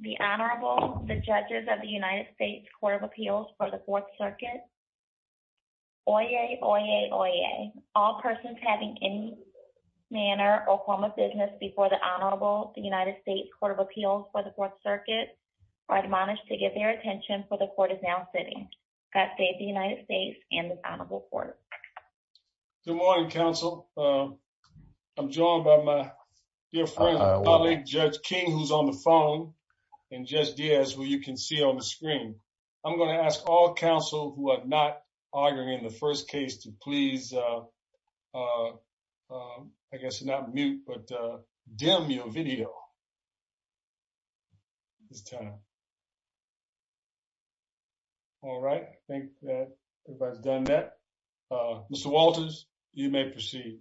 The Honorable, the Judges of the United States Court of Appeals for the Fourth Circuit. Oyez, oyez, oyez. All persons having any manner or form of business before the Honorable, the United States Court of Appeals for the Fourth Circuit are admonished to give their attention for the Court is now sitting. God save the United States and this Honorable Court. Good morning, counsel. I'm joined by my dear friend and colleague, Judge King, who's on the phone, and Judge Diaz, who you can see on the screen. I'm going to ask all counsel who are not arguing in the first case to please, I guess, not mute, but dim your video. All right. I think that everybody's done that. Mr. Walters, you may proceed.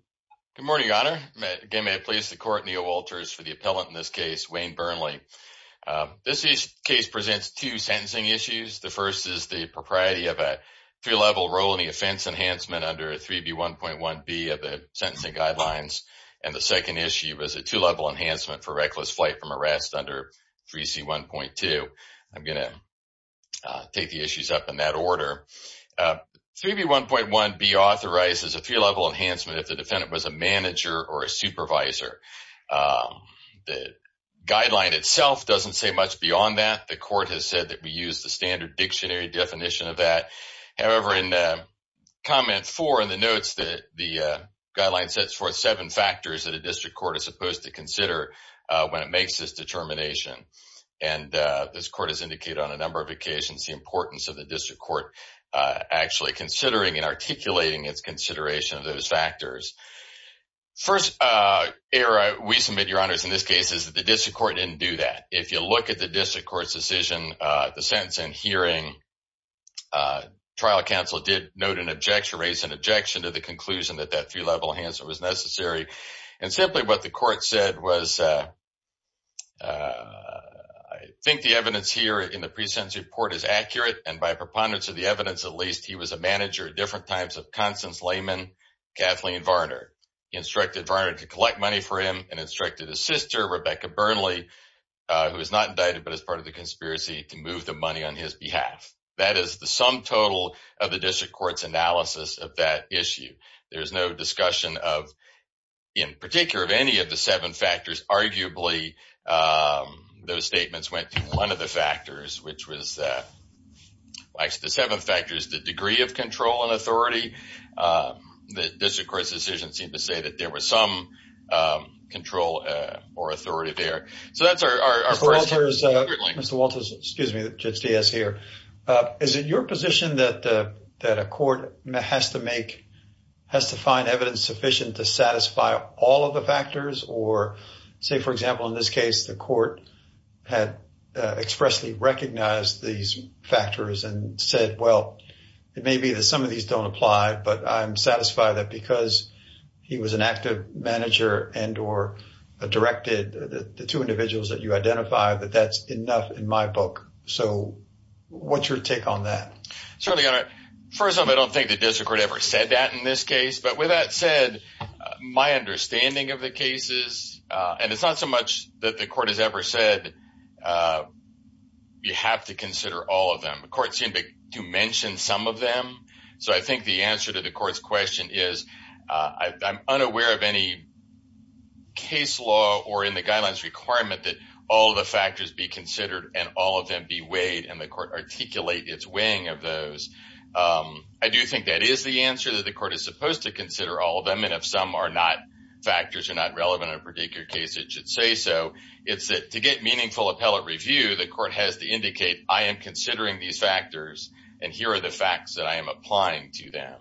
Good morning, Your Honor. Again, may it please the Court, Neal Walters for the appellant in this case, Wayne Burnley. This case presents two sentencing issues. The first is the propriety of a three-level role in the offense enhancement under 3B1.1b of the sentencing guidelines. And the second issue is a two-level enhancement for reckless flight from arrest under 3C1.2. I'm going to take the issues up in that order. 3B1.1b authorizes a three-level enhancement if the defendant was a manager or a supervisor. The guideline itself doesn't say much beyond that. The Court has said that we use the standard dictionary definition of that. However, in comment four in the notes, the guideline sets forth seven factors that a district court is supposed to consider when it makes this determination. And this Court has indicated on a number of occasions the importance of the district court actually considering and articulating its consideration of those factors. First error we submit, Your Honors, in this case is that the district court didn't do that. If you look at the district court's decision, the sentence in hearing, trial counsel did note an objection, raise an objection to the conclusion that that three-level enhancement was necessary. And simply what the court said was, I think the evidence here in the pre-sentence report is accurate. And by preponderance of the evidence, at least, he was a manager at different times of Constance Lehman, Kathleen Varner. He instructed Varner to collect money for him and instructed his sister, Rebecca Burnley, who is not indicted but is part of the conspiracy, to move the money on his behalf. That is the sum total of the district court's analysis of that issue. There is no discussion of, in particular, of any of the seven factors. Arguably, those statements went to one of the factors, which was the seven factors, the degree of control and authority. The district court's decision seemed to say that there was some control or authority there. Mr. Walters, excuse me, Judge Diaz here. Is it your position that a court has to find evidence sufficient to satisfy all of the factors or, say, for example, in this case, the court had expressly recognized these factors and said, well, it may be that some of these don't apply, but I'm satisfied that because he was an active manager and or directed the two individuals that you identify, that that's enough in my book. So what's your take on that? Certainly, Your Honor. First of all, I don't think the district court ever said that in this case. But with that said, my understanding of the cases, and it's not so much that the court has ever said you have to consider all of them. The court seemed to mention some of them. So I think the answer to the court's question is I'm unaware of any case law or in the guidelines requirement that all the factors be considered and all of them be weighed. And the court articulate its weighing of those. I do think that is the answer that the court is supposed to consider all of them. And if some are not factors are not relevant in a particular case, it should say so. It's to get meaningful appellate review. The court has to indicate I am considering these factors and here are the facts that I am applying to them.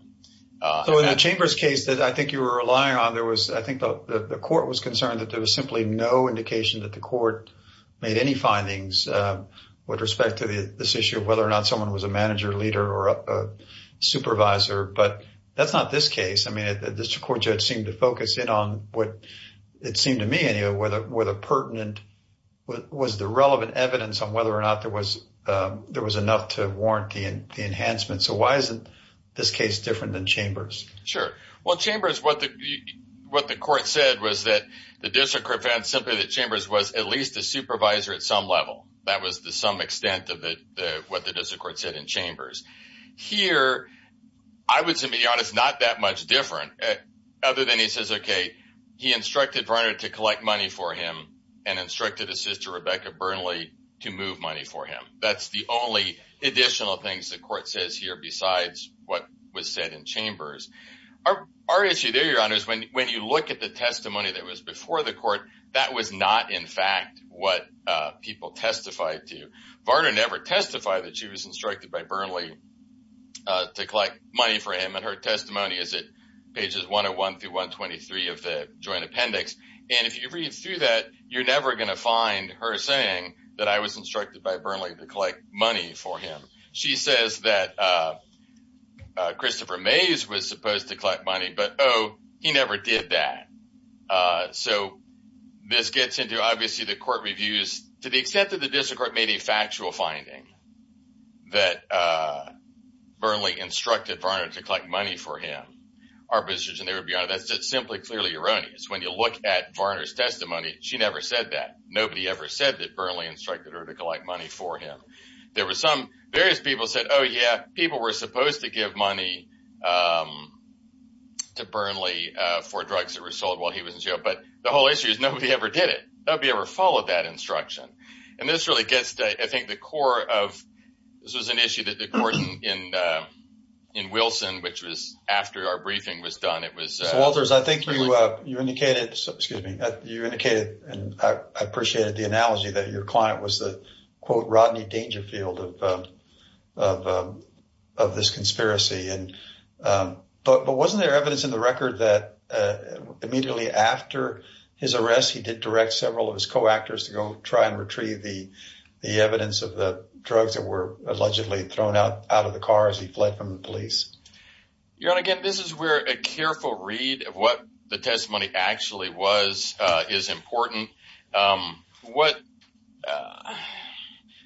So in the chamber's case that I think you were relying on, there was I think the court was concerned that there was simply no indication that the court made any findings with respect to this issue of whether or not someone was a manager, leader or supervisor. But that's not this case. I mean, the district court judge seemed to focus in on what it seemed to me anyway, whether pertinent was the relevant evidence on whether or not there was enough to warrant the enhancement. So why isn't this case different than Chambers? Sure. Well, Chambers, what the court said was that the district court found simply that Chambers was at least a supervisor at some level. That was to some extent of what the district court said in Chambers. Here, I would say to be honest, not that much different other than he says, OK, he instructed Varner to collect money for him and instructed his sister, Rebecca Burnley, to move money for him. That's the only additional things the court says here besides what was said in Chambers. Our issue there, Your Honor, is when you look at the testimony that was before the court, that was not in fact what people testified to. Varner never testified that she was instructed by Burnley to collect money for him. And her testimony is at pages 101 through 123 of the joint appendix. And if you read through that, you're never going to find her saying that I was instructed by Burnley to collect money for him. She says that Christopher Mays was supposed to collect money, but, oh, he never did that. So this gets into, obviously, the court reviews to the extent that the district court made a factual finding that Burnley instructed Varner to collect money for him. Our position there, Your Honor, that's just simply clearly erroneous. When you look at Varner's testimony, she never said that. Nobody ever said that Burnley instructed her to collect money for him. Various people said, oh, yeah, people were supposed to give money to Burnley for drugs that were sold while he was in jail. But the whole issue is nobody ever did it. Nobody ever followed that instruction. And this really gets to, I think, the core of – this was an issue that the court in Wilson, which was after our briefing was done, it was – of this conspiracy. But wasn't there evidence in the record that immediately after his arrest, he did direct several of his co-actors to go try and retrieve the evidence of the drugs that were allegedly thrown out of the car as he fled from the police? Your Honor, again, this is where a careful read of what the testimony actually was is important. What –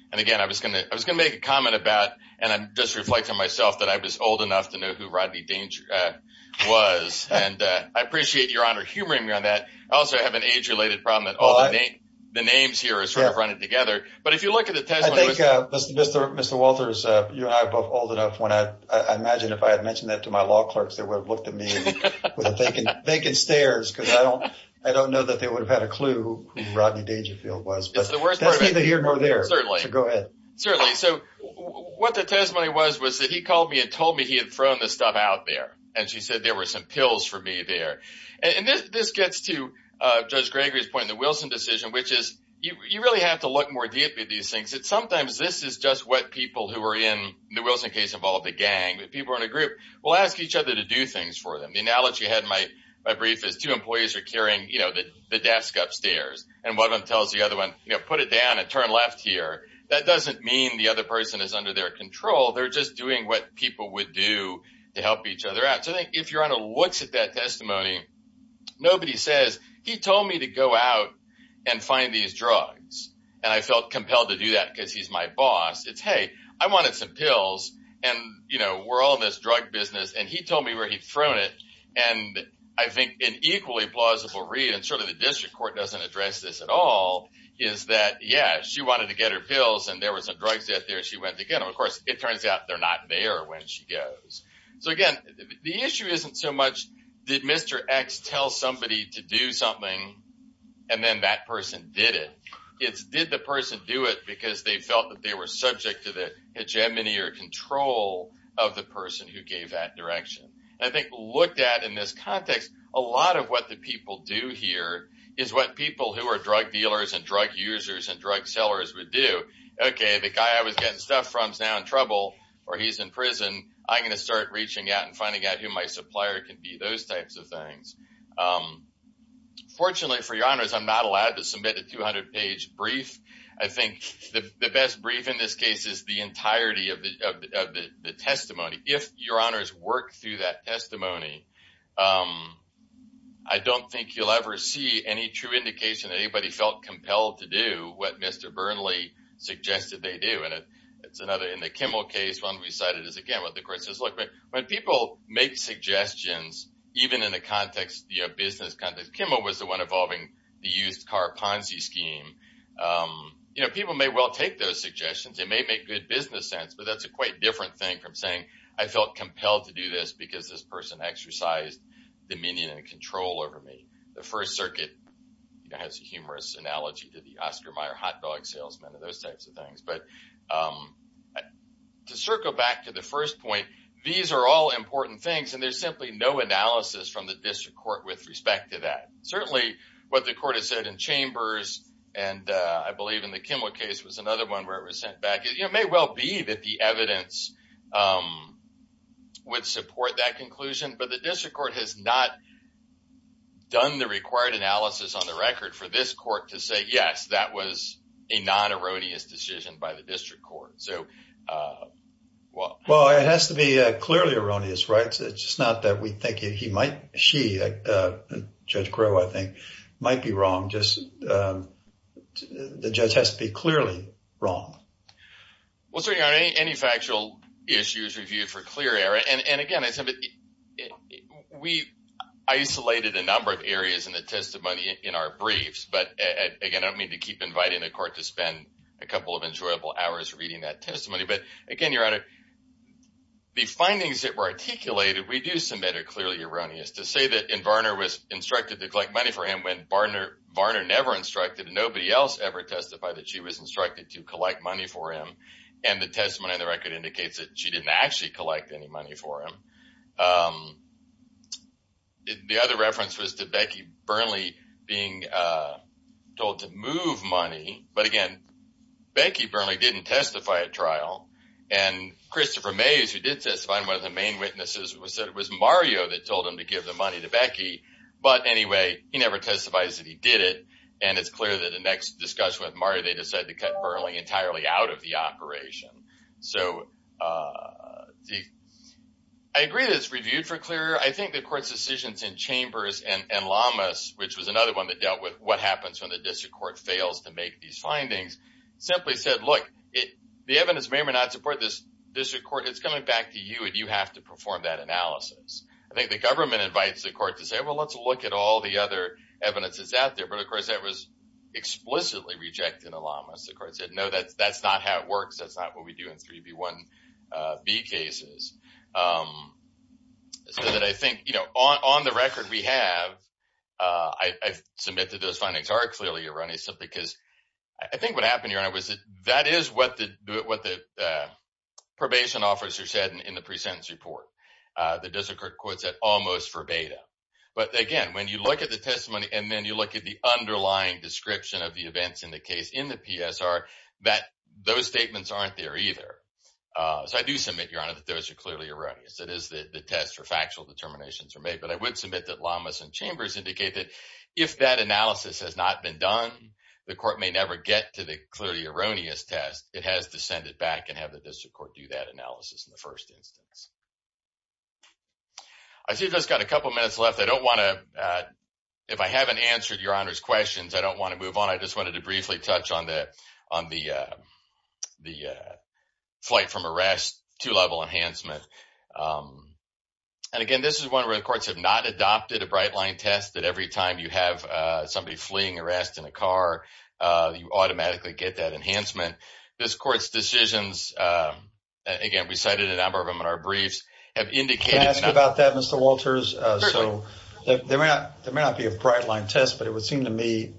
and again, I was going to make a comment about – and I'm just reflecting on myself that I was old enough to know who Rodney Danger was. And I appreciate Your Honor humoring me on that. I also have an age-related problem that all the names here are sort of running together. But if you look at the testimony – I think Mr. Walters, you and I are both old enough. I imagine if I had mentioned that to my law clerks, they would have looked at me with vacant stares because I don't know that they would have had a clue who Rodney Dangerfield was. But that's neither here nor there. So go ahead. Certainly. So what the testimony was was that he called me and told me he had thrown the stuff out there. And she said there were some pills for me there. And this gets to Judge Gregory's point in the Wilson decision, which is you really have to look more deeply at these things. Sometimes this is just what people who are in the Wilson case involved, the gang, the people in a group, will ask each other to do things for them. The analogy I had in my brief is two employees are carrying the desk upstairs. And one of them tells the other one, put it down and turn left here. That doesn't mean the other person is under their control. They're just doing what people would do to help each other out. So I think if you're on a looks at that testimony, nobody says he told me to go out and find these drugs. And I felt compelled to do that because he's my boss. It's hey, I wanted some pills. And, you know, we're all in this drug business. And he told me where he'd thrown it. And I think an equally plausible read, and certainly the district court doesn't address this at all, is that, yeah, she wanted to get her pills. And there were some drugs out there. She went to get them. Of course, it turns out they're not there when she goes. So, again, the issue isn't so much did Mr. X tell somebody to do something and then that person did it. It's did the person do it because they felt that they were subject to the hegemony or control of the person who gave that direction. And I think looked at in this context, a lot of what the people do here is what people who are drug dealers and drug users and drug sellers would do. Okay, the guy I was getting stuff from is now in trouble or he's in prison. I'm going to start reaching out and finding out who my supplier can be, those types of things. Fortunately, for your honors, I'm not allowed to submit a 200-page brief. I think the best brief in this case is the entirety of the testimony. If your honors work through that testimony, I don't think you'll ever see any true indication that anybody felt compelled to do what Mr. Burnley suggested they do. In the Kimmel case, when people make suggestions, even in a business context, Kimmel was the one involving the used car Ponzi scheme. People may well take those suggestions. It may make good business sense, but that's a quite different thing from saying, I felt compelled to do this because this person exercised dominion and control over me. The First Circuit has a humorous analogy to the Oscar Mayer hot dog salesman and those types of things. To circle back to the first point, these are all important things and there's simply no analysis from the district court with respect to that. Certainly, what the court has said in Chambers and I believe in the Kimmel case was another one where it was sent back. It may well be that the evidence would support that conclusion, but the district court has not done the required analysis on the record for this court to say, yes, that was a non-erroneous decision by the district court. Well, it has to be clearly erroneous, right? It's just not that we think he might, she, Judge Crowe, I think, might be wrong. The judge has to be clearly wrong. Well, certainly on any factual issues reviewed for clear error. And again, we isolated a number of areas in the testimony in our briefs. But again, I don't mean to keep inviting the court to spend a couple of enjoyable hours reading that testimony. But again, Your Honor, the findings that were articulated we do submit are clearly erroneous. One is to say that Varner was instructed to collect money for him when Varner never instructed and nobody else ever testified that she was instructed to collect money for him. And the testimony in the record indicates that she didn't actually collect any money for him. The other reference was to Becky Burnley being told to move money. But again, Becky Burnley didn't testify at trial. And Christopher Mays, who did testify, one of the main witnesses, said it was Mario that told him to give the money to Becky. But anyway, he never testifies that he did it. And it's clear that the next discussion with Mario, they decided to cut Burnley entirely out of the operation. So I agree that it's reviewed for clear error. I think the court's decisions in Chambers and Lamas, which was another one that dealt with what happens when the district court fails to make these findings, simply said, look, the evidence may or may not support this district court. It's coming back to you, and you have to perform that analysis. I think the government invites the court to say, well, let's look at all the other evidence that's out there. But, of course, that was explicitly rejected in the Lamas. The court said, no, that's not how it works. That's not what we do in 3B1B cases. So that I think, you know, on the record we have, I submit that those findings are clearly erroneous, because I think what happened, Your Honor, was that that is what the probation officer said in the pre-sentence report. The district court said almost verbatim. But, again, when you look at the testimony and then you look at the underlying description of the events in the case in the PSR, that those statements aren't there either. So I do submit, Your Honor, that those are clearly erroneous. It is the test for factual determinations are made. But I would submit that Lamas and Chambers indicate that if that analysis has not been done, the court may never get to the clearly erroneous test. It has to send it back and have the district court do that analysis in the first instance. I see we've just got a couple minutes left. I don't want to, if I haven't answered Your Honor's questions, I don't want to move on. But I just wanted to briefly touch on the flight from arrest to level enhancement. And, again, this is one where the courts have not adopted a bright line test that every time you have somebody fleeing arrest in a car, you automatically get that enhancement. This court's decisions, again, we cited a number of them in our briefs, have indicated... There may not be a bright line test, but it would seem to me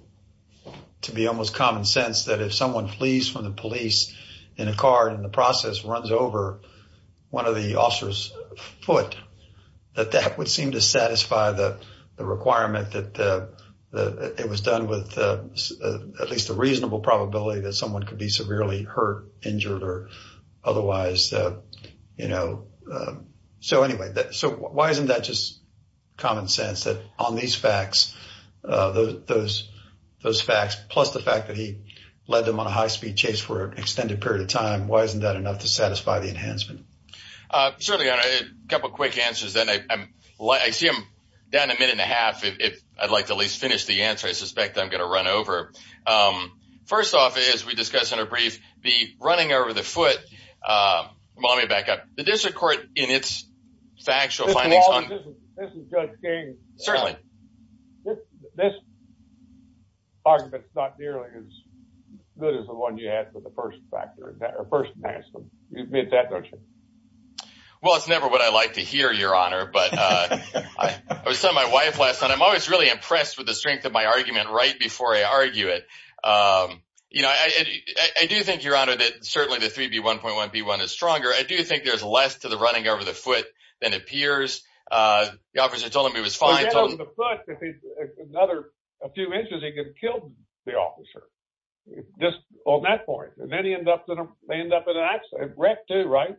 to be almost common sense that if someone flees from the police in a car and in the process runs over one of the officers' foot, that that would seem to satisfy the requirement that it was done with at least a reasonable probability that someone could be severely hurt, injured, or otherwise. So, anyway, why isn't that just common sense that on these facts, those facts, plus the fact that he led them on a high-speed chase for an extended period of time, why isn't that enough to satisfy the enhancement? Certainly, Your Honor, a couple of quick answers. I see I'm down a minute and a half. If I'd like to at least finish the answer, I suspect I'm going to run over. First off, as we discussed in our brief, the running over the foot... Well, let me back up. The district court in its factual findings on... This is Judge King. Certainly. This argument's not nearly as good as the one you had with the first factor, or first maximum. You admit that, don't you? Well, it's never what I like to hear, Your Honor. I was telling my wife last night, I'm always really impressed with the strength of my argument right before I argue it. You know, I do think, Your Honor, that certainly the 3B1.1B1 is stronger. I do think there's less to the running over the foot than appears. The officer told him he was fine. Well, he ran over the foot. Another few inches, he could have killed the officer. Just on that point. And then he ended up in an accident. A wreck, too, right?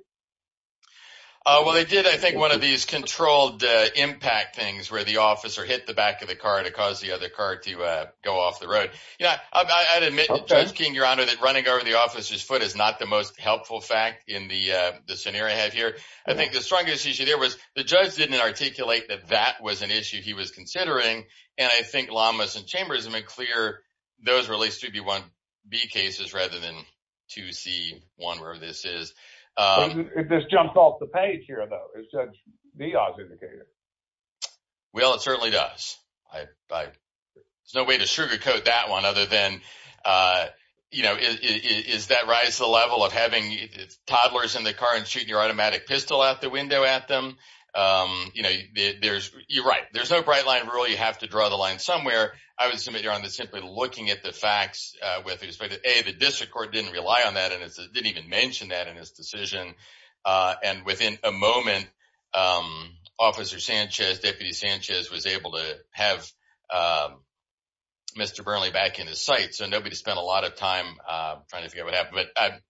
Well, they did, I think, one of these controlled impact things where the officer hit the back of the car to cause the other car to go off the road. You know, I'd admit, Judge King, Your Honor, that running over the officer's foot is not the most helpful fact in the scenario I have here. I think the strongest issue there was the judge didn't articulate that that was an issue he was considering. And I think Lamas and Chambers made clear those were at least 3B1B cases rather than 2C1, whatever this is. This jumps off the page here, though. It's the odds indicator. Well, it certainly does. There's no way to sugarcoat that one other than, you know, is that rise to the level of having toddlers in the car and shooting your automatic pistol out the window at them? You know, you're right. There's no bright line rule. You have to draw the line somewhere. I would assume, Your Honor, that simply looking at the facts with respect to A, the district court didn't rely on that and didn't even mention that in his decision. And within a moment, Officer Sanchez, Deputy Sanchez, was able to have Mr. Burnley back in his sight. So nobody spent a lot of time trying to figure out what happened. But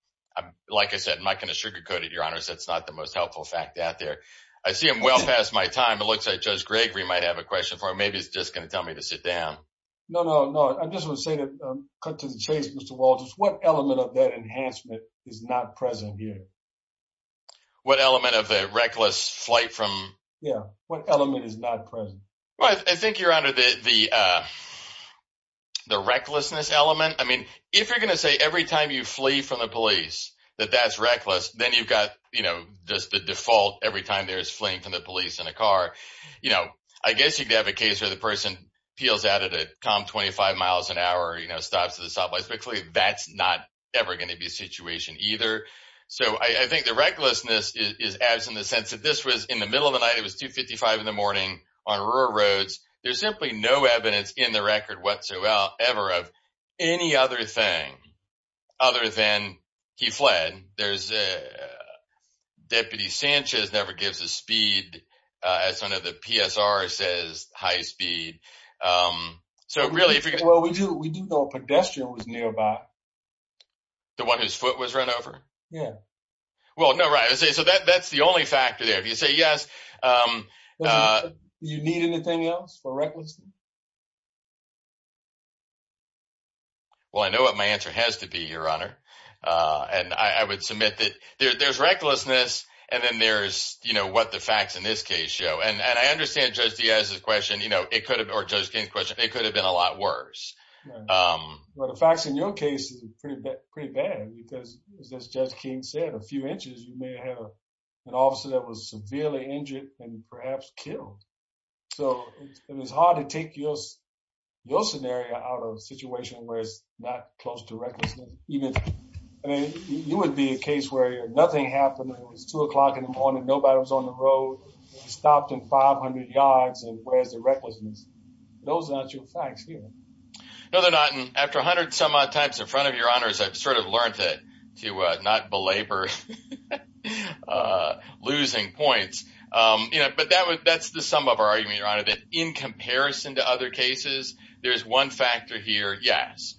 like I said, I'm not going to sugarcoat it, Your Honor. That's not the most helpful fact out there. I see I'm well past my time. It looks like Judge Gregory might have a question for him. Maybe he's just going to tell me to sit down. No, no, no. I just want to say cut to the chase, Mr. Walters. What element of that enhancement is not present here? What element of the reckless flight from? Yeah. What element is not present? Well, I think, Your Honor, the recklessness element. I mean, if you're going to say every time you flee from the police that that's reckless, then you've got, you know, just the default every time there is fleeing from the police in a car. You know, I guess you could have a case where the person peels out at a calm 25 miles an hour, you know, stops at a stoplight. But clearly that's not ever going to be a situation either. So I think the recklessness is absent in the sense that this was in the middle of the night. It was 255 in the morning on rural roads. There's simply no evidence in the record whatsoever of any other thing other than he fled. And there's a Deputy Sanchez never gives a speed as one of the PSR says high speed. So really, we do know a pedestrian was nearby. The one whose foot was run over? Yeah. Well, no, right. So that's the only factor there. If you say yes. You need anything else for recklessness? Well, I know what my answer has to be, Your Honor. And I would submit that there's recklessness. And then there's, you know, what the facts in this case show. And I understand Judge Diaz's question. You know, it could have or Judge King's question. It could have been a lot worse. Well, the facts in your case is pretty bad, pretty bad. Because as Judge King said, a few inches, you may have an officer that was severely injured and perhaps killed. So it was hard to take your scenario out of a situation where it's not close to recklessness. I mean, you would be a case where nothing happened. It was 2 o'clock in the morning. Nobody was on the road. Stopped in 500 yards. And where's the recklessness? Those are not your facts here. No, they're not. And after 100 some odd times in front of Your Honors, I've sort of learned to not belabor losing points. But that's the sum of our argument, Your Honor, that in comparison to other cases, there's one factor here, yes.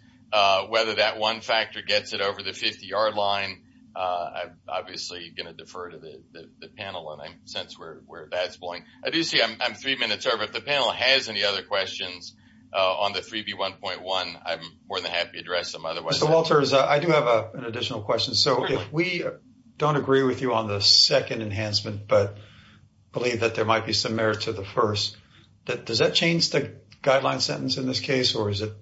Whether that one factor gets it over the 50-yard line, I'm obviously going to defer to the panel. And I sense where that's going. I do see I'm three minutes over. If the panel has any other questions on the 3B1.1, I'm more than happy to address them. Mr. Walters, I do have an additional question. So if we don't agree with you on the second enhancement but believe that there might be some merit to the first, does that change the guideline sentence in this case or is it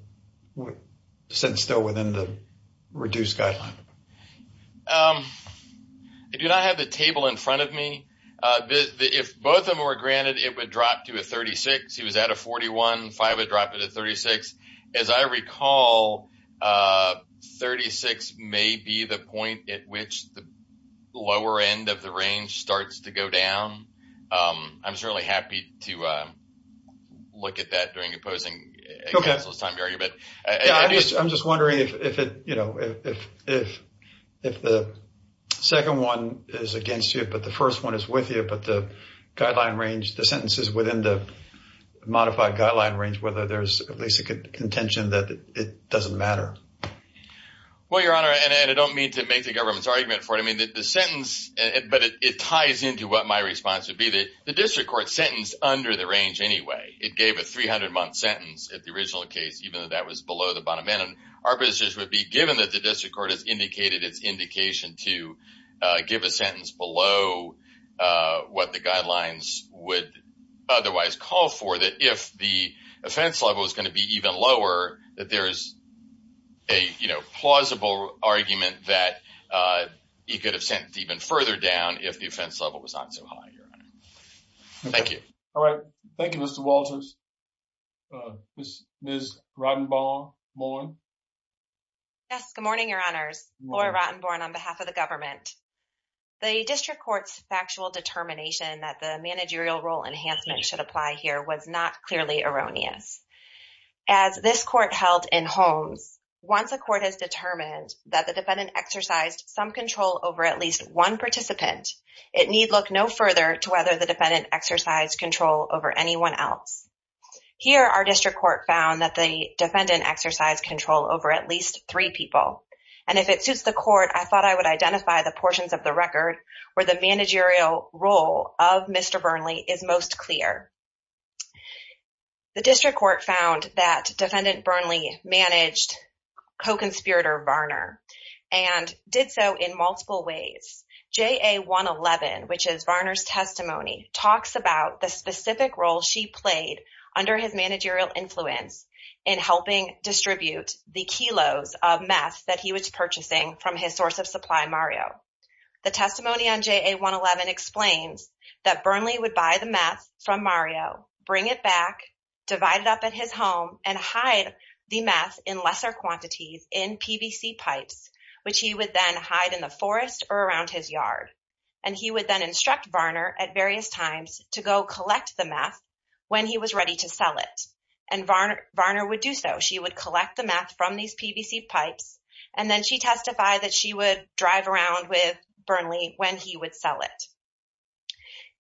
still within the reduced guideline? I do not have the table in front of me. If both of them were granted, it would drop to a 36. He was at a 41. Five would drop it at 36. As I recall, 36 may be the point at which the lower end of the range starts to go down. I'm certainly happy to look at that during opposing counsel's time period. I'm just wondering if the second one is against you but the first one is with you, but the guideline range, the sentences within the modified guideline range, whether there's at least a contention that it doesn't matter. Well, Your Honor, and I don't mean to make the government's argument for it. I mean, the sentence, but it ties into what my response would be. The district court sentenced under the range anyway. It gave a 300-month sentence at the original case even though that was below the bottom end. Our position would be, given that the district court has indicated its indication to give a sentence below what the guidelines would otherwise call for, that if the offense level is going to be even lower, that there is a plausible argument that he could have sentenced even further down if the offense level was not so high, Your Honor. Thank you. All right. Thank you, Mr. Walters. Ms. Rottenborn? Yes, good morning, Your Honors. Laura Rottenborn on behalf of the government. The district court's factual determination that the managerial role enhancement should apply here was not clearly erroneous. As this court held in Holmes, once a court has determined that the defendant exercised some control over at least one participant, it need look no further to whether the defendant exercised control over anyone else. Here, our district court found that the defendant exercised control over at least three people. And if it suits the court, I thought I would identify the portions of the record where the managerial role of Mr. Burnley is most clear. The district court found that Defendant Burnley managed co-conspirator Varner and did so in multiple ways. JA-111, which is Varner's testimony, talks about the specific role she played under his managerial influence in helping distribute the kilos of meth that he was purchasing from his source of supply, Mario. The testimony on JA-111 explains that Burnley would buy the meth from Mario, bring it back, divide it up at his home, and hide the meth in lesser quantities in PVC pipes, which he would then hide in the forest or around his yard. And he would then instruct Varner at various times to go collect the meth when he was ready to sell it. And Varner would do so. She would collect the meth from these PVC pipes, and then she testified that she would drive around with Burnley when he would sell it.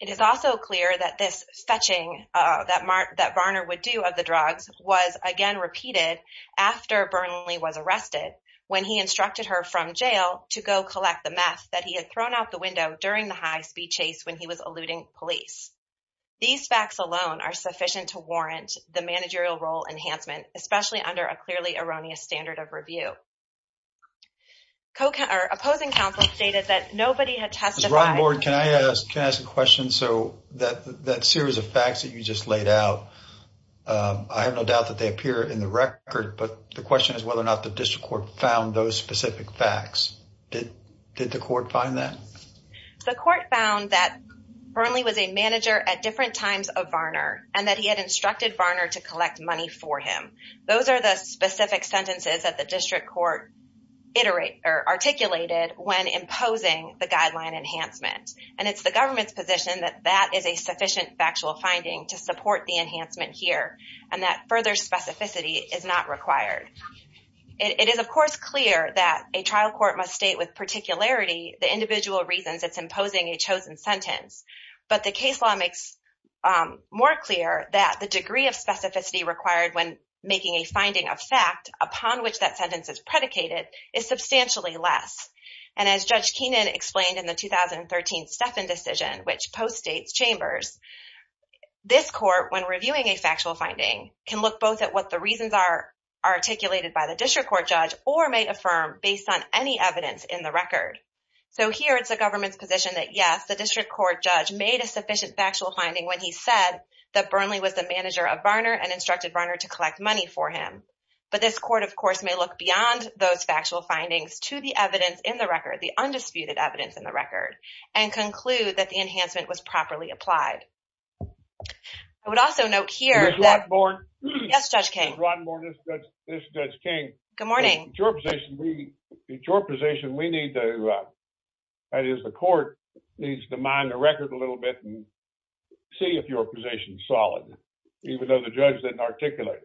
It is also clear that this fetching that Varner would do of the drugs was again repeated after Burnley was arrested when he instructed her from jail to go collect the meth that he had thrown out the window during the high-speed chase when he was eluding police. These facts alone are sufficient to warrant the managerial role enhancement, especially under a clearly erroneous standard of review. Opposing counsel stated that nobody had testified... Ron Lord, can I ask a question? So that series of facts that you just laid out, I have no doubt that they appear in the record, but the question is whether or not the district court found those specific facts. Did the court find that? The court found that Burnley was a manager at different times of Varner, and that he had instructed Varner to collect money for him. Those are the specific sentences that the district court articulated when imposing the guideline enhancement. And it's the government's position that that is a sufficient factual finding to support the enhancement here, and that further specificity is not required. It is of course clear that a trial court must state with particularity the individual reasons it's imposing a chosen sentence. But the case law makes more clear that the degree of specificity required when making a finding of fact upon which that sentence is predicated is substantially less. And as Judge Keenan explained in the 2013 Steffen decision, which postdates Chambers, this court, when reviewing a factual finding, can look both at what the reasons are articulated by the district court judge or may affirm based on any evidence in the record. So here it's the government's position that yes, the district court judge made a sufficient factual finding when he said that Burnley was the manager of Varner and instructed Varner to collect money for him. But this court, of course, may look beyond those factual findings to the evidence in the record, the undisputed evidence in the record, and conclude that the enhancement was properly applied. I would also note here that... Ms. Rotenborn? Yes, Judge King. Ms. Rotenborn, this is Judge King. Good morning. In your position, we need to, that is the court, needs to mine the record a little bit and see if your position is solid, even though the judge didn't articulate it.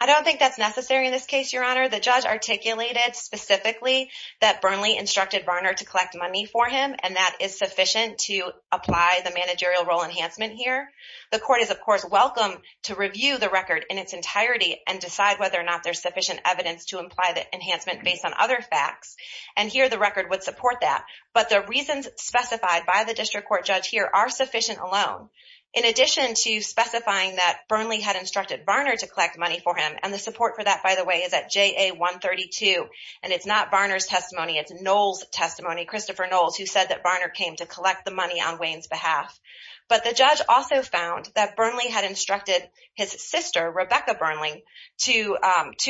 I don't think that's necessary in this case, Your Honor. The judge articulated specifically that Burnley instructed Varner to collect money for him, and that is sufficient to apply the managerial role enhancement here. The court is, of course, welcome to review the record in its entirety and decide whether or not there's sufficient evidence to imply the enhancement based on other facts. And here the record would support that. But the reasons specified by the district court judge here are sufficient alone. In addition to specifying that Burnley had instructed Varner to collect money for him, and the support for that, by the way, is at JA-132, and it's not Varner's testimony. It's Knowles' testimony, Christopher Knowles, who said that Varner came to collect the money on Wayne's behalf. But the judge also found that Burnley had instructed his sister, Rebecca Burnley, to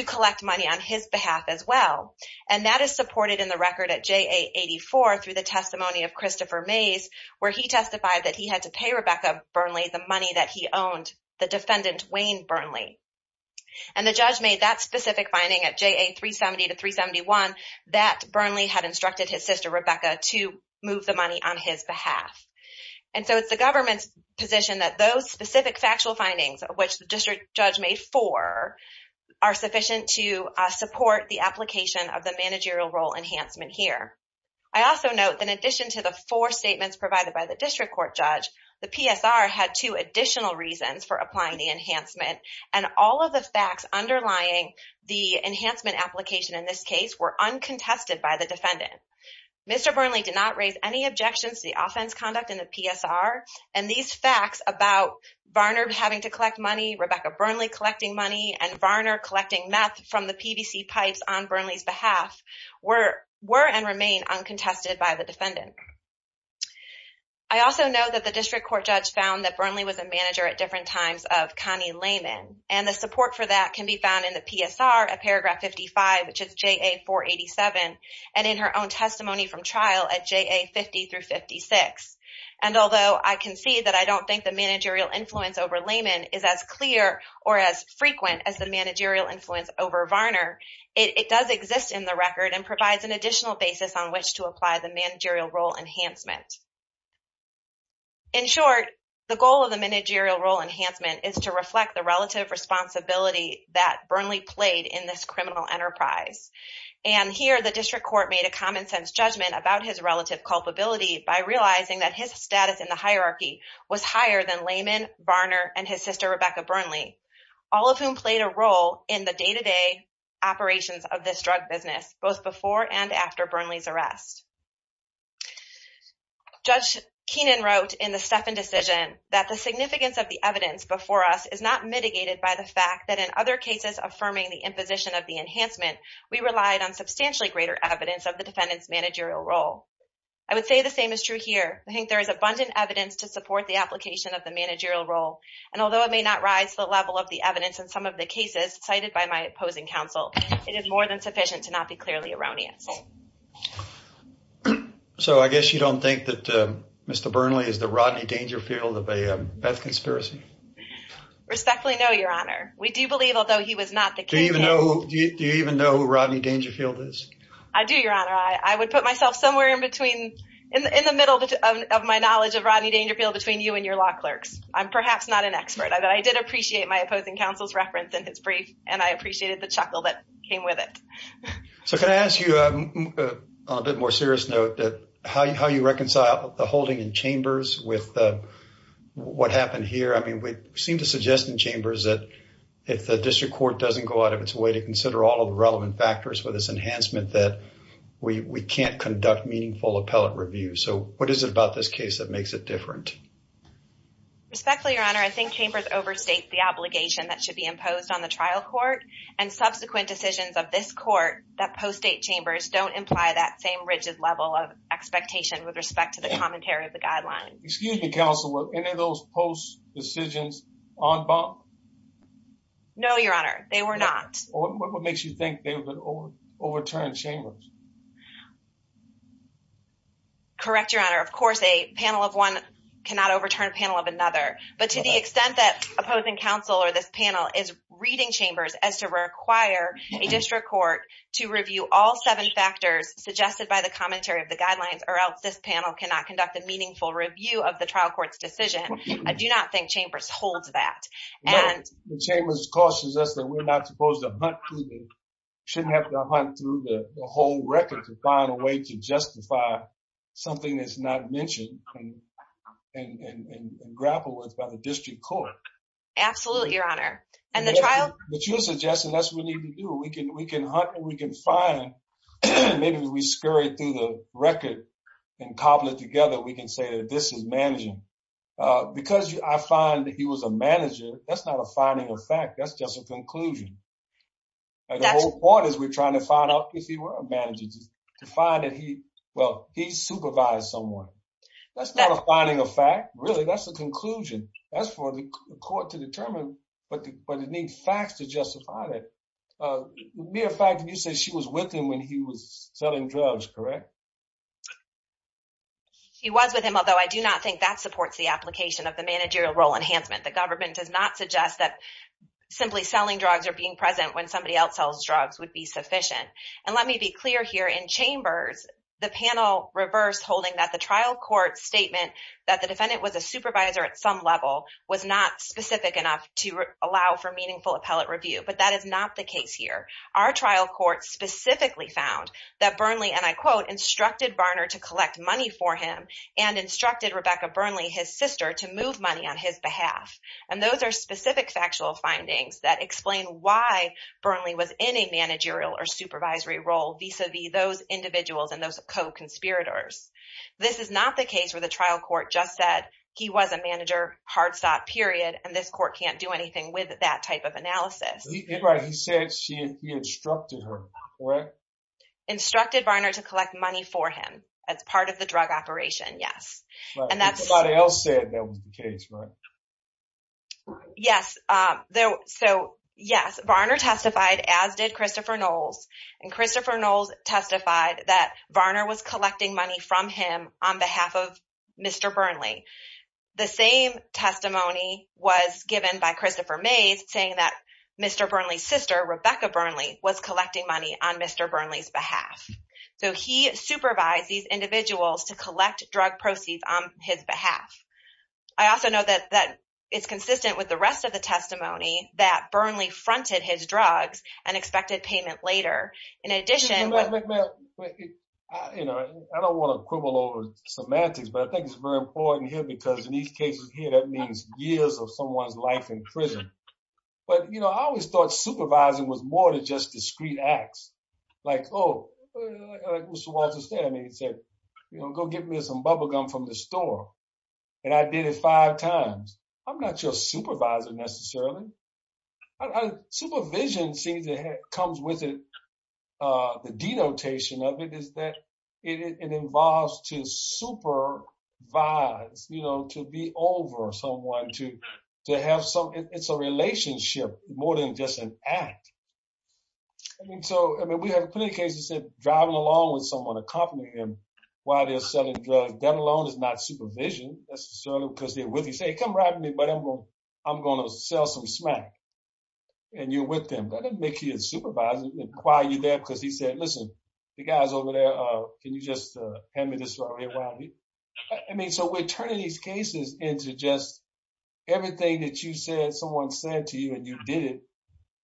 collect money on his behalf as well. And that is supported in the record at JA-84 through the testimony of Christopher Mays, where he testified that he had to pay Rebecca Burnley the money that he owned the defendant, Wayne Burnley. And the judge made that specific finding at JA-370 to 371 that Burnley had instructed his sister, Rebecca, to move the money on his behalf. And so it's the government's position that those specific factual findings, which the district judge made four, are sufficient to support the application of the managerial role enhancement here. I also note that in addition to the four statements provided by the district court judge, the PSR had two additional reasons for applying the enhancement. And all of the facts underlying the enhancement application in this case were uncontested by the defendant. Mr. Burnley did not raise any objections to the offense conduct in the PSR. And these facts about Varner having to collect money, Rebecca Burnley collecting money, and Varner collecting meth from the PVC pipes on Burnley's behalf were and remain uncontested by the defendant. I also know that the district court judge found that Burnley was a manager at different times of Connie Lehman. And the support for that can be found in the PSR at paragraph 55, which is JA-487, and in her own testimony from trial at JA-50 through 56. And although I can see that I don't think the managerial influence over Lehman is as clear or as frequent as the managerial influence over Varner, it does exist in the record and provides an additional basis on which to apply the managerial role enhancement. In short, the goal of the managerial role enhancement is to reflect the relative responsibility that Burnley played in this criminal enterprise. And here the district court made a common sense judgment about his relative culpability by realizing that his status in the hierarchy was higher than Lehman, Varner, and his sister Rebecca Burnley, all of whom played a role in the day-to-day operations of this drug business, both before and after Burnley's arrest. Judge Keenan wrote in the Steffen decision that the significance of the evidence before us is not mitigated by the fact that in other cases affirming the imposition of the enhancement, we relied on substantially greater evidence of the defendant's managerial role. I would say the same is true here. I think there is abundant evidence to support the application of the managerial role. And although it may not rise to the level of the evidence in some of the cases cited by my opposing counsel, it is more than sufficient to not be clearly erroneous. So I guess you don't think that Mr. Burnley is the Rodney Dangerfield of a Beth conspiracy? Respectfully no, Your Honor. We do believe, although he was not the kingpin. Do you even know who Rodney Dangerfield is? I do, Your Honor. I would put myself somewhere in between, in the middle of my knowledge of Rodney Dangerfield, between you and your law clerks. I'm perhaps not an expert, but I did appreciate my opposing counsel's reference in his brief, and I appreciated the chuckle that came with it. So can I ask you, on a bit more serious note, how you reconcile the holding in chambers with what happened here? I mean, we seem to suggest in chambers that if the district court doesn't go out of its way to consider all of the relevant factors for this enhancement, that we can't conduct meaningful appellate review. So what is it about this case that makes it different? Respectfully, Your Honor, I think chambers overstate the obligation that should be imposed on the trial court, and subsequent decisions of this court that postdate chambers don't imply that same rigid level of expectation with respect to the commentary of the guidelines. Excuse me, counsel, were any of those post decisions en banc? No, Your Honor, they were not. What makes you think they would overturn chambers? Correct, Your Honor. Of course, a panel of one cannot overturn a panel of another. But to the extent that opposing counsel or this panel is reading chambers as to require a district court to review all seven factors suggested by the commentary of the guidelines, or else this panel cannot conduct a meaningful review of the trial court's decision, I do not think chambers holds that. No, the chambers, of course, suggests that we're not supposed to hunt through the whole record to find a way to justify something that's not mentioned and grappled with by the district court. Absolutely, Your Honor. But you're suggesting that's what we need to do. We can hunt and we can find, maybe we scurry through the record and cobble it together, we can say that this is managing. Because I find that he was a manager, that's not a finding of fact, that's just a conclusion. The whole point is we're trying to find out if he were a manager to find that he, well, he supervised someone. That's not a finding of fact, really, that's a conclusion. That's for the court to determine, but it needs facts to justify that. As a matter of fact, you said she was with him when he was selling drugs, correct? She was with him, although I do not think that supports the application of the managerial role enhancement. The government does not suggest that simply selling drugs or being present when somebody else sells drugs would be sufficient. And let me be clear here, in chambers, the panel reversed holding that the trial court's statement that the defendant was a supervisor at some level was not specific enough to allow for meaningful appellate review. But that is not the case here. Our trial court specifically found that Burnley, and I quote, instructed Barner to collect money for him and instructed Rebecca Burnley, his sister, to move money on his behalf. And those are specific factual findings that explain why Burnley was in a managerial or supervisory role vis-a-vis those individuals and those co-conspirators. This is not the case where the trial court just said he was a manager, hard-sought, period, and this court can't do anything with that type of analysis. He said he instructed her, correct? Instructed Barner to collect money for him as part of the drug operation, yes. But somebody else said that was the case, right? Yes, so yes, Barner testified, as did Christopher Knowles, and Christopher Knowles testified that Barner was collecting money from him on behalf of Mr. Burnley. The same testimony was given by Christopher Mays, saying that Mr. Burnley's sister, Rebecca Burnley, was collecting money on Mr. Burnley's behalf. So he supervised these individuals to collect drug proceeds on his behalf. I also know that it's consistent with the rest of the testimony that Burnley fronted his drugs and expected payment later. In addition— But, you know, I don't want to quibble over semantics, but I think it's very important here because in these cases here, that means years of someone's life in prison. But, you know, I always thought supervising was more than just discrete acts. Like, oh, Mr. Walter Stanley said, you know, go get me some bubble gum from the store. And I did it five times. I'm not your supervisor, necessarily. Supervision seems to have—comes with it. The denotation of it is that it involves to supervise, you know, to be over someone, to have some—it's a relationship more than just an act. I mean, so, I mean, we have plenty of cases of driving along with someone, accompanying them while they're selling drugs. That alone is not supervision, necessarily, because they're with you. Say, come ride with me, but I'm going to sell some smack. And you're with them. That doesn't make you a supervisor. They inquire you there because he said, listen, the guys over there, can you just hand me this for a little while? I mean, so we're turning these cases into just everything that you said someone said to you and you did it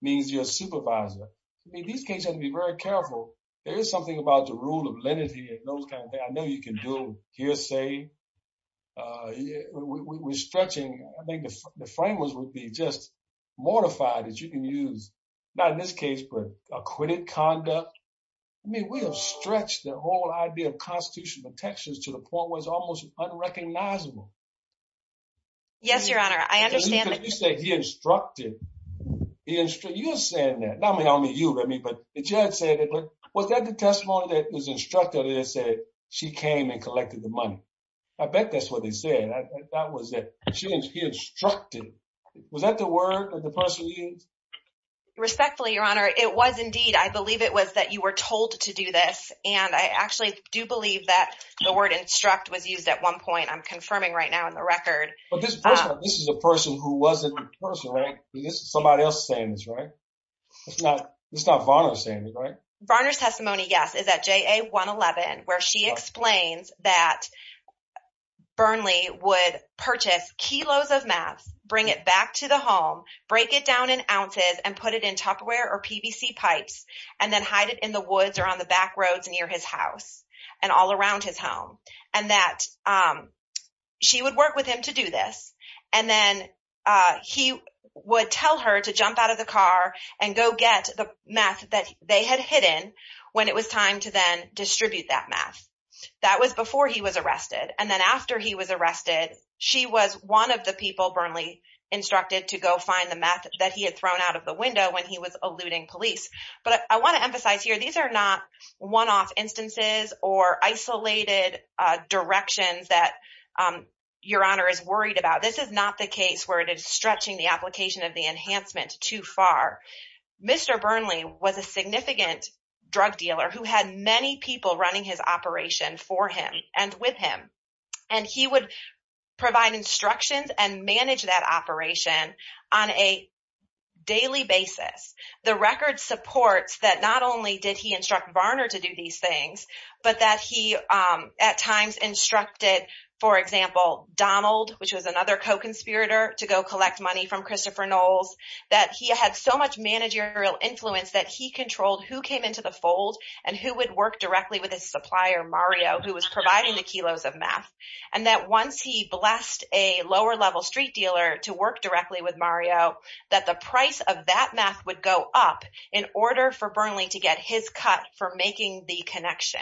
means you're a supervisor. I mean, these cases have to be very careful. There is something about the rule of lenity and those kind of things. I know you can do hearsay. We're stretching—I think the framers would be just mortified that you can use, not in this case, but acquitted conduct. I mean, we have stretched the whole idea of constitutional protections to the point where it's almost unrecognizable. Yes, Your Honor, I understand that. Because you said he instructed. You're saying that. Not only you, Remy, but the judge said it. But was that the testimony that was instructed that said she came and collected the money? I bet that's what they said. That was it. She instructed. Was that the word that the person used? Respectfully, Your Honor, it was indeed. I believe it was that you were told to do this. And I actually do believe that the word instruct was used at one point. I'm confirming right now in the record. But this person—this is a person who wasn't a person, right? This is somebody else's statement, right? This is not Varner's statement, right? Varner's testimony, yes, is at JA-111 where she explains that Burnley would purchase kilos of meth, bring it back to the home, break it down in ounces and put it in Tupperware or PVC pipes and then hide it in the woods or on the back roads near his house and all around his home. And that she would work with him to do this. And then he would tell her to jump out of the car and go get the meth that they had hidden when it was time to then distribute that meth. That was before he was arrested. And then after he was arrested, she was one of the people Burnley instructed to go find the meth that he had thrown out of the window when he was eluding police. But I want to emphasize here these are not one-off instances or isolated directions that Your Honor is worried about. This is not the case where it is stretching the application of the enhancement too far. Mr. Burnley was a significant drug dealer who had many people running his operation for him and with him. And he would provide instructions and manage that operation on a daily basis. The record supports that not only did he instruct Varner to do these things, but that he at times instructed, for example, Donald, which was another co-conspirator, to go collect money from Christopher Knowles, that he had so much managerial influence that he controlled who came into the fold and who would work directly with his supplier, Mario, who was providing the kilos of meth. And that once he blessed a lower-level street dealer to work directly with Mario, that the price of that meth would go up in order for Burnley to get his cut for making the connection.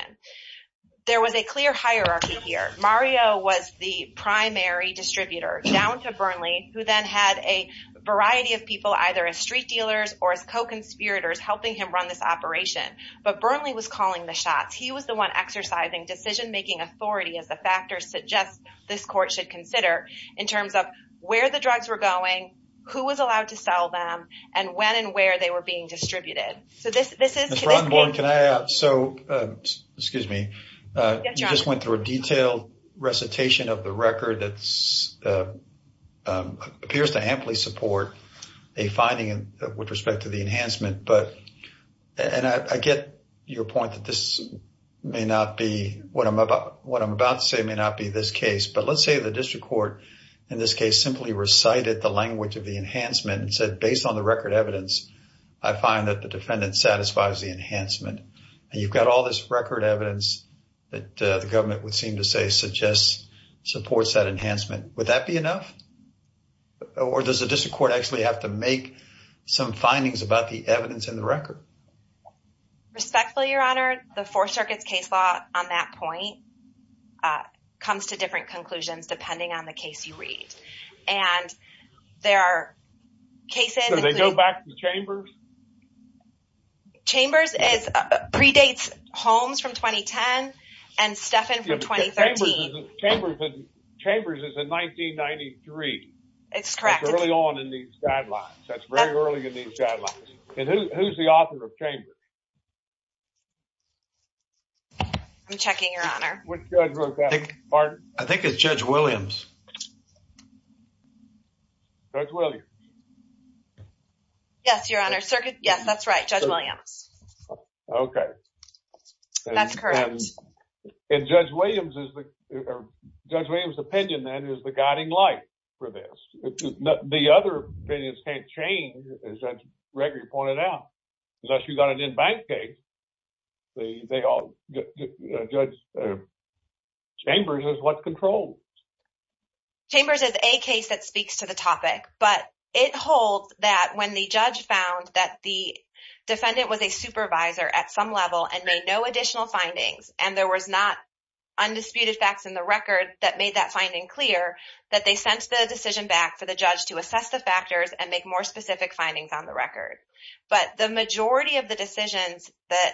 There was a clear hierarchy here. Mario was the primary distributor, down to Burnley, who then had a variety of people either as street dealers or as co-conspirators helping him run this operation. But Burnley was calling the shots. He was the one exercising decision-making authority, as the factors suggest this court should consider, in terms of where the drugs were going, who was allowed to sell them, and when and where they were being distributed. Mr. Rottenberg, can I add? Excuse me. Yes, John. You just went through a detailed recitation of the record that appears to amply support a finding with respect to the enhancement. And I get your point that what I'm about to say may not be this case. But let's say the district court, in this case, simply recited the language of the enhancement and said, based on the record evidence, I find that the defendant satisfies the enhancement. And you've got all this record evidence that the government would seem to say supports that enhancement. Would that be enough? Or does the district court actually have to make some findings about the evidence in the record? Respectfully, Your Honor, the Fourth Circuit's case law on that point comes to different conclusions depending on the case you read. And there are cases… So they go back to Chambers? Chambers predates Holmes from 2010 and Steffen from 2013. Chambers is in 1993. That's correct. That's early on in these guidelines. That's very early in these guidelines. And who's the author of Chambers? I'm checking, Your Honor. Which judge wrote that? I think it's Judge Williams. Judge Williams? Yes, Your Honor. Yes, that's right. Judge Williams. Okay. That's correct. And Judge Williams' opinion, then, is the guiding light for this. The other opinions can't change, as Judge Gregory pointed out. Unless you've got an in-bank case, Judge Chambers is what controls. Chambers is a case that speaks to the topic. But it holds that when the judge found that the defendant was a supervisor at some level and made no additional findings, and there was not undisputed facts in the record that made that finding clear, that they sent the decision back for the judge to assess the factors and make more specific findings on the record. But the majority of the decisions that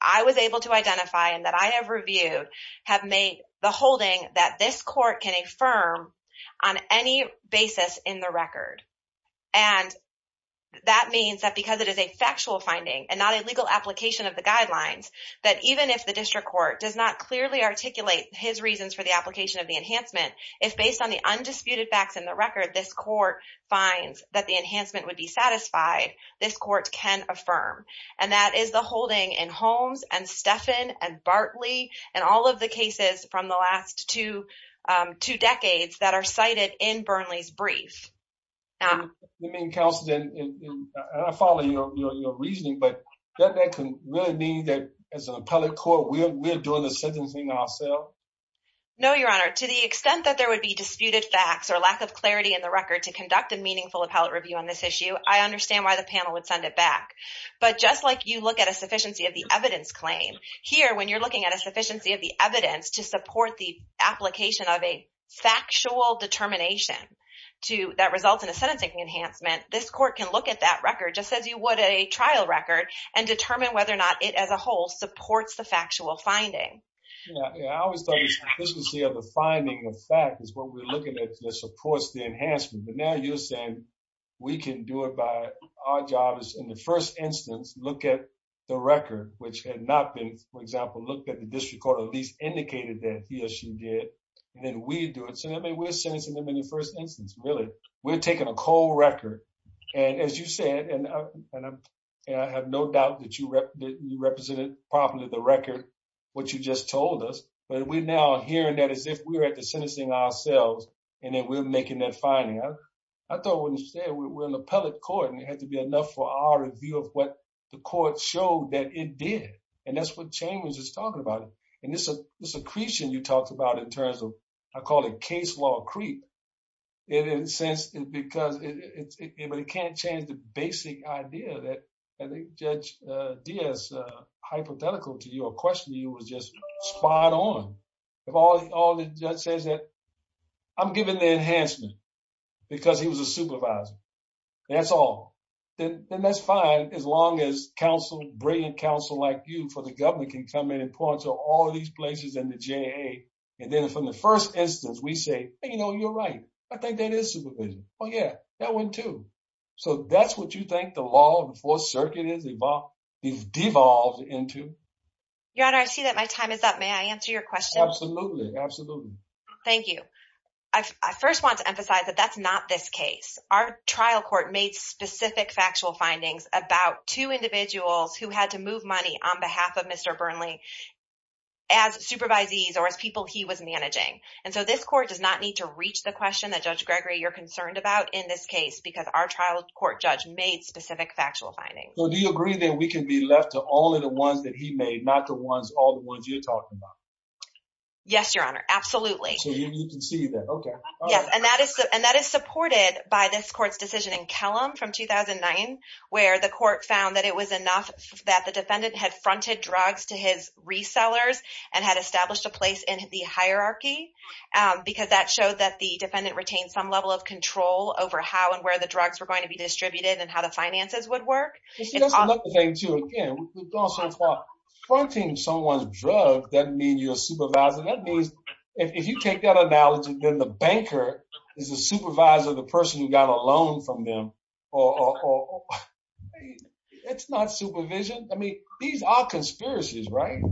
I was able to identify and that I have reviewed have made the holding that this court can affirm on any basis in the record. And that means that because it is a factual finding and not a legal application of the guidelines, that even if the district court does not clearly articulate his reasons for the application of the enhancement, if, based on the undisputed facts in the record, this court finds that the enhancement would be satisfied, this court can affirm. And that is the holding in Holmes and Steffen and Bartley and all of the cases from the last two decades that are cited in Burnley's brief. You mean, counsel, and I follow your reasoning, but doesn't that really mean that, as an appellate court, we're doing the sentencing ourselves? No, Your Honor. To the extent that there would be disputed facts or lack of clarity in the record to conduct a meaningful appellate review on this issue, I understand why the panel would send it back. But just like you look at a sufficiency of the evidence claim, here, when you're looking at a sufficiency of the evidence to support the application of a factual determination that results in a sentencing enhancement, this court can look at that record just as you would a trial record and determine whether or not it, as a whole, supports the factual finding. Yeah, I always thought the sufficiency of the finding of fact is what we're looking at that supports the enhancement. But now you're saying we can do it by our job is, in the first instance, look at the record, which had not been, for example, looked at the district court or at least indicated that he or she did, and then we do it. So, I mean, we're sentencing them in the first instance, really. We're taking a cold record. And as you said, and I have no doubt that you represented properly the record, what you just told us, but we're now hearing that as if we were at the sentencing ourselves and then we're making that finding. I thought when you said we're an appellate court and it had to be enough for our review of what the court showed that it did. And that's what Chambers is talking about. And this accretion you talked about in terms of I call it case law accretion. In a sense, because it can't change the basic idea that Judge Diaz hypothetical to your question, you was just spot on. If all the judge says that I'm giving the enhancement because he was a supervisor, that's all. Then that's fine as long as counsel, brilliant counsel like you for the government can come in and point to all of these places and the J.A. And then from the first instance, we say, you know, you're right. I think that is supervision. Oh, yeah, that went to. So that's what you think the law of the Fourth Circuit is about. He's devolved into your honor. I see that my time is up. May I answer your question? Absolutely. Absolutely. Thank you. I first want to emphasize that that's not this case. Our trial court made specific factual findings about two individuals who had to move money on behalf of Mr. Burnley. As supervisees or as people, he was managing. And so this court does not need to reach the question that Judge Gregory, you're concerned about in this case, because our trial court judge made specific factual findings. So do you agree that we can be left to all of the ones that he made, not the ones, all the ones you're talking about? Yes, your honor. Absolutely. So you can see that. OK. Yes. And that is and that is supported by this court's decision in Kellam from 2009, where the court found that it was enough that the defendant had fronted drugs to his resellers and had established a place in the hierarchy because that showed that the defendant retained some level of control over how and where the drugs were going to be distributed and how the finances would work. Thank you again. Fronting someone's drug doesn't mean you're a supervisor. That means if you take that analogy, then the banker is a supervisor, the person who got a loan from them or it's not supervision. I mean, these are conspiracies, right?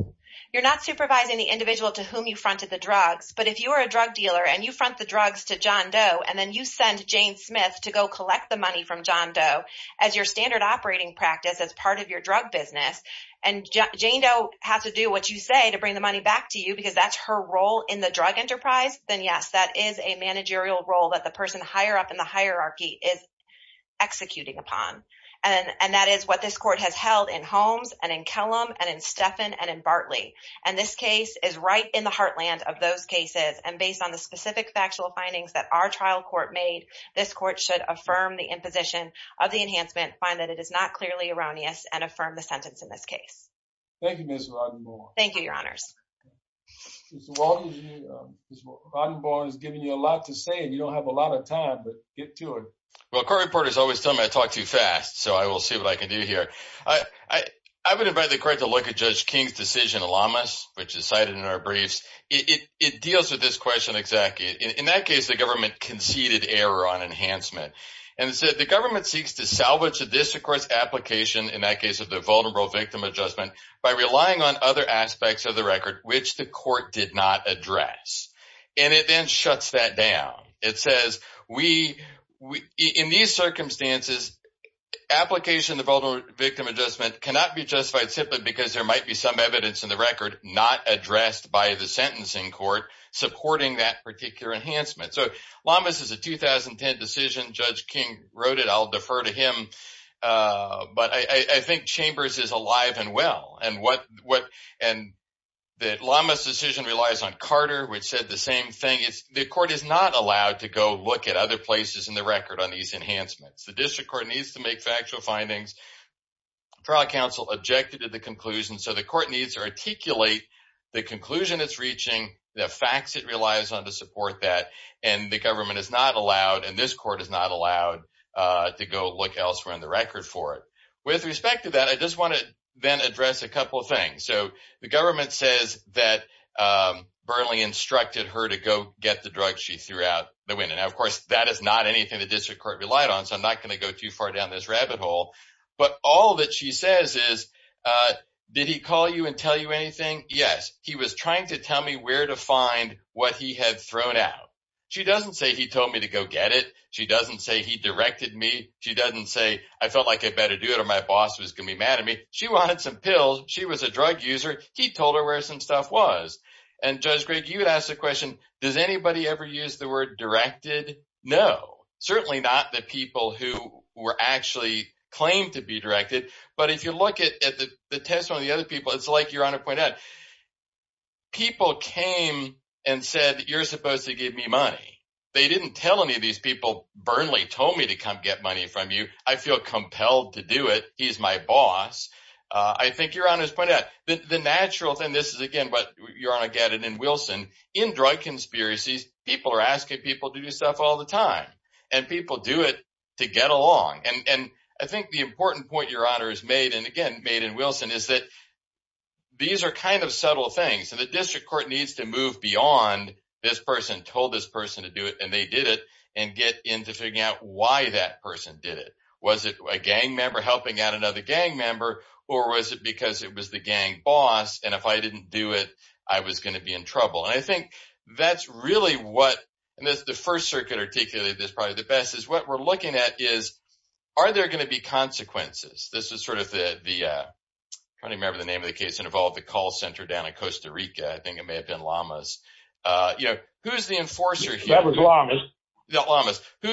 You're not supervising the individual to whom you fronted the drugs. But if you are a drug dealer and you front the drugs to John Doe and then you send Jane Smith to go collect the money from John Doe as your standard operating practice, as part of your drug business and Jane Doe has to do what you say to bring the money back to you because that's her role in the drug enterprise, then, yes, that is a managerial role that the person higher up in the hierarchy is executing upon. And that is what this court has held in Holmes and in Kellam and in Stephan and in Bartley. And this case is right in the heartland of those cases. And based on the specific factual findings that our trial court made, this court should affirm the imposition of the enhancement, find that it is not clearly erroneous, and affirm the sentence in this case. Thank you, Ms. Rodenborn. Thank you, Your Honors. Ms. Rodenborn has given you a lot to say and you don't have a lot of time, but get to it. Well, court reporters always tell me I talk too fast, so I will see what I can do here. I would invite the court to look at Judge King's decision in Lamas, which is cited in our briefs. It deals with this question exactly. In that case, the government conceded error on enhancement. And it said, the government seeks to salvage the district court's application, in that case of the vulnerable victim adjustment, by relying on other aspects of the record which the court did not address. And it then shuts that down. It says, in these circumstances, application of the vulnerable victim adjustment cannot be justified simply because there might be some evidence in the record not addressed by the sentencing court supporting that particular enhancement. So, Lamas is a 2010 decision. Judge King wrote it. I'll defer to him. But I think Chambers is alive and well. And the Lamas decision relies on Carter, which said the same thing. The court is not allowed to go look at other places in the record on these enhancements. The district court needs to make factual findings. Trial counsel objected to the conclusion, so the court needs to articulate the conclusion it's reaching, the facts it relies on to support that. And the government is not allowed, and this court is not allowed, to go look elsewhere in the record for it. With respect to that, I just want to then address a couple of things. So, the government says that Burnley instructed her to go get the drugs she threw out the window. Now, of course, that is not anything the district court relied on, so I'm not going to go too far down this rabbit hole. But all that she says is, did he call you and tell you anything? Yes. He was trying to tell me where to find what he had thrown out. She doesn't say he told me to go get it. She doesn't say he directed me. She doesn't say I felt like I better do it or my boss was going to be mad at me. She wanted some pills. She was a drug user. He told her where some stuff was. And, Judge Gregg, you would ask the question, does anybody ever use the word directed? No. Certainly not the people who were actually claimed to be directed. But if you look at the testimony of the other people, it's like Your Honor pointed out. People came and said, you're supposed to give me money. They didn't tell any of these people, Burnley told me to come get money from you. I feel compelled to do it. He's my boss. I think Your Honor's pointed out, the natural thing, this is again what Your Honor added in Wilson, in drug conspiracies, people are asking people to do stuff all the time. And people do it to get along. And I think the important point Your Honor has made, and again made in Wilson, is that these are kind of subtle things. So the district court needs to move beyond this person told this person to do it and they did it and get into figuring out why that person did it. Was it a gang member helping out another gang member or was it because it was the gang boss and if I didn't do it, I was going to be in trouble. And I think that's really what, and the First Circuit articulated this probably the best, is what we're looking at is, are there going to be consequences? This is sort of the, I can't remember the name of the case that involved the call center down in Costa Rica. I think it may have been Lamas. Who's the enforcer here? That was Lamas. I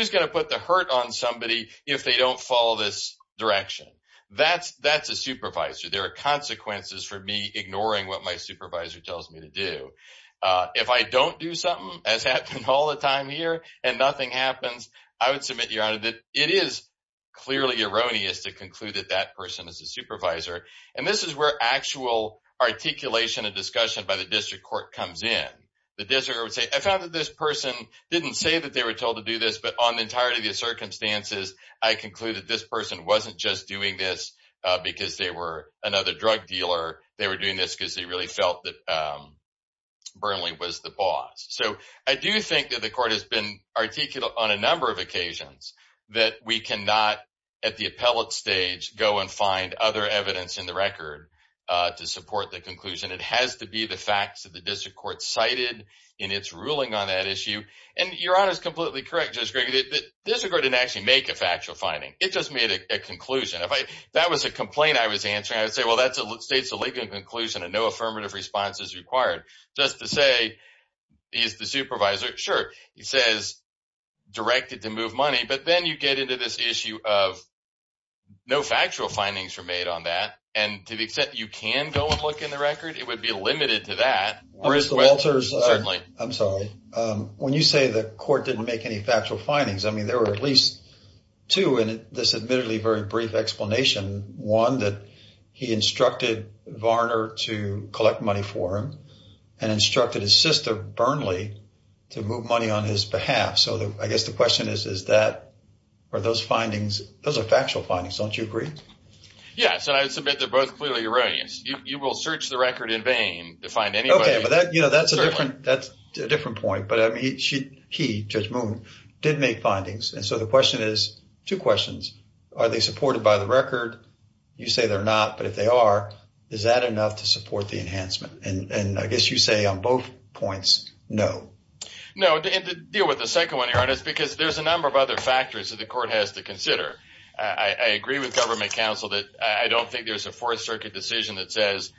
didn't say that they were told to do this, but on the entirety of the circumstances, I conclude that this person wasn't just doing this because they were another drug dealer. They were doing this because they really felt that Burnley was the boss. So I do think that the court has been articulate on a number of occasions that we cannot, at the appellate stage, go and find other evidence in the record to support the conclusion. It has to be the facts that the district court cited in its ruling on that issue. And Your Honor is completely correct, Judge Gregg. The district court didn't actually make a factual finding. It just made a conclusion. If that was a complaint I was answering, I would say, well, that states a legal conclusion and no affirmative response is required. But then you get into this issue of no factual findings were made on that. And to the extent you can go and look in the record, it would be limited to that. Mr. Walters, I'm sorry. When you say the court didn't make any factual findings, I mean, there were at least two in this admittedly very brief explanation. One, that he instructed Varner to collect money for him and instructed his sister Burnley to move money on his behalf. So I guess the question is, is that or those findings, those are factual findings, don't you agree? Yes. And I submit they're both clearly erroneous. You will search the record in vain to find anybody. Okay. But that's a different point. But he, Judge Moon, did make findings. And so the question is, two questions. Are they supported by the record? You say they're not. But if they are, is that enough to support the enhancement? And I guess you say on both points, no. No. And to deal with the second one here, it's because there's a number of other factors that the court has to consider. I agree with government counsel that I don't think there's a Fourth Circuit decision that says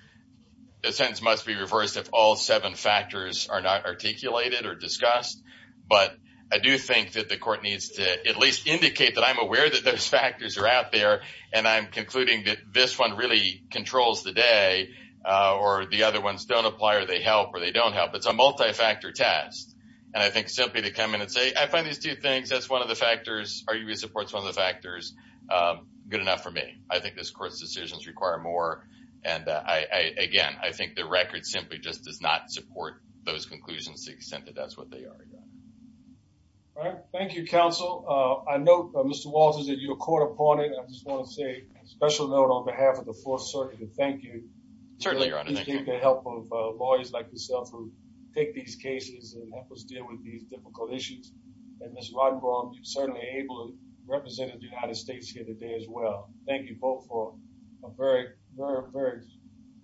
the sentence must be reversed if all seven factors are not articulated or discussed. But I do think that the court needs to at least indicate that I'm aware that those factors are out there. And I'm concluding that this one really controls the day or the other ones don't apply or they help or they don't help. It's a multi-factor test. And I think simply to come in and say, I find these two things. That's one of the factors. Are you in support of the factors? Good enough for me. I think this court's decisions require more. And I, again, I think the record simply just does not support those conclusions to the extent that that's what they are. All right. Thank you, counsel. I know, Mr. Walters, that you're caught up on it. I just want to say a special note on behalf of the Fourth Circuit. Thank you. Certainly, your honor. Thank you for the help of lawyers like yourself who take these cases and help us deal with these difficult issues. And, Mr. Rodenbaum, you've certainly able to represent the United States here today as well. Thank you both for a very, very, very,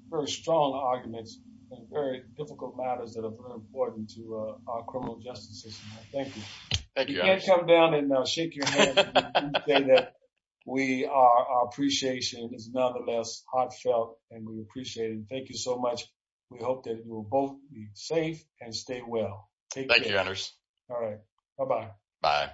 very strong arguments and very difficult matters that are important to our criminal justice system. Thank you. Thank you. I can't come down and shake your hand and say that we are. Our appreciation is nonetheless heartfelt and we appreciate it. Thank you so much. We hope that you will both be safe and stay well. Thank you. All right. Bye bye. Bye.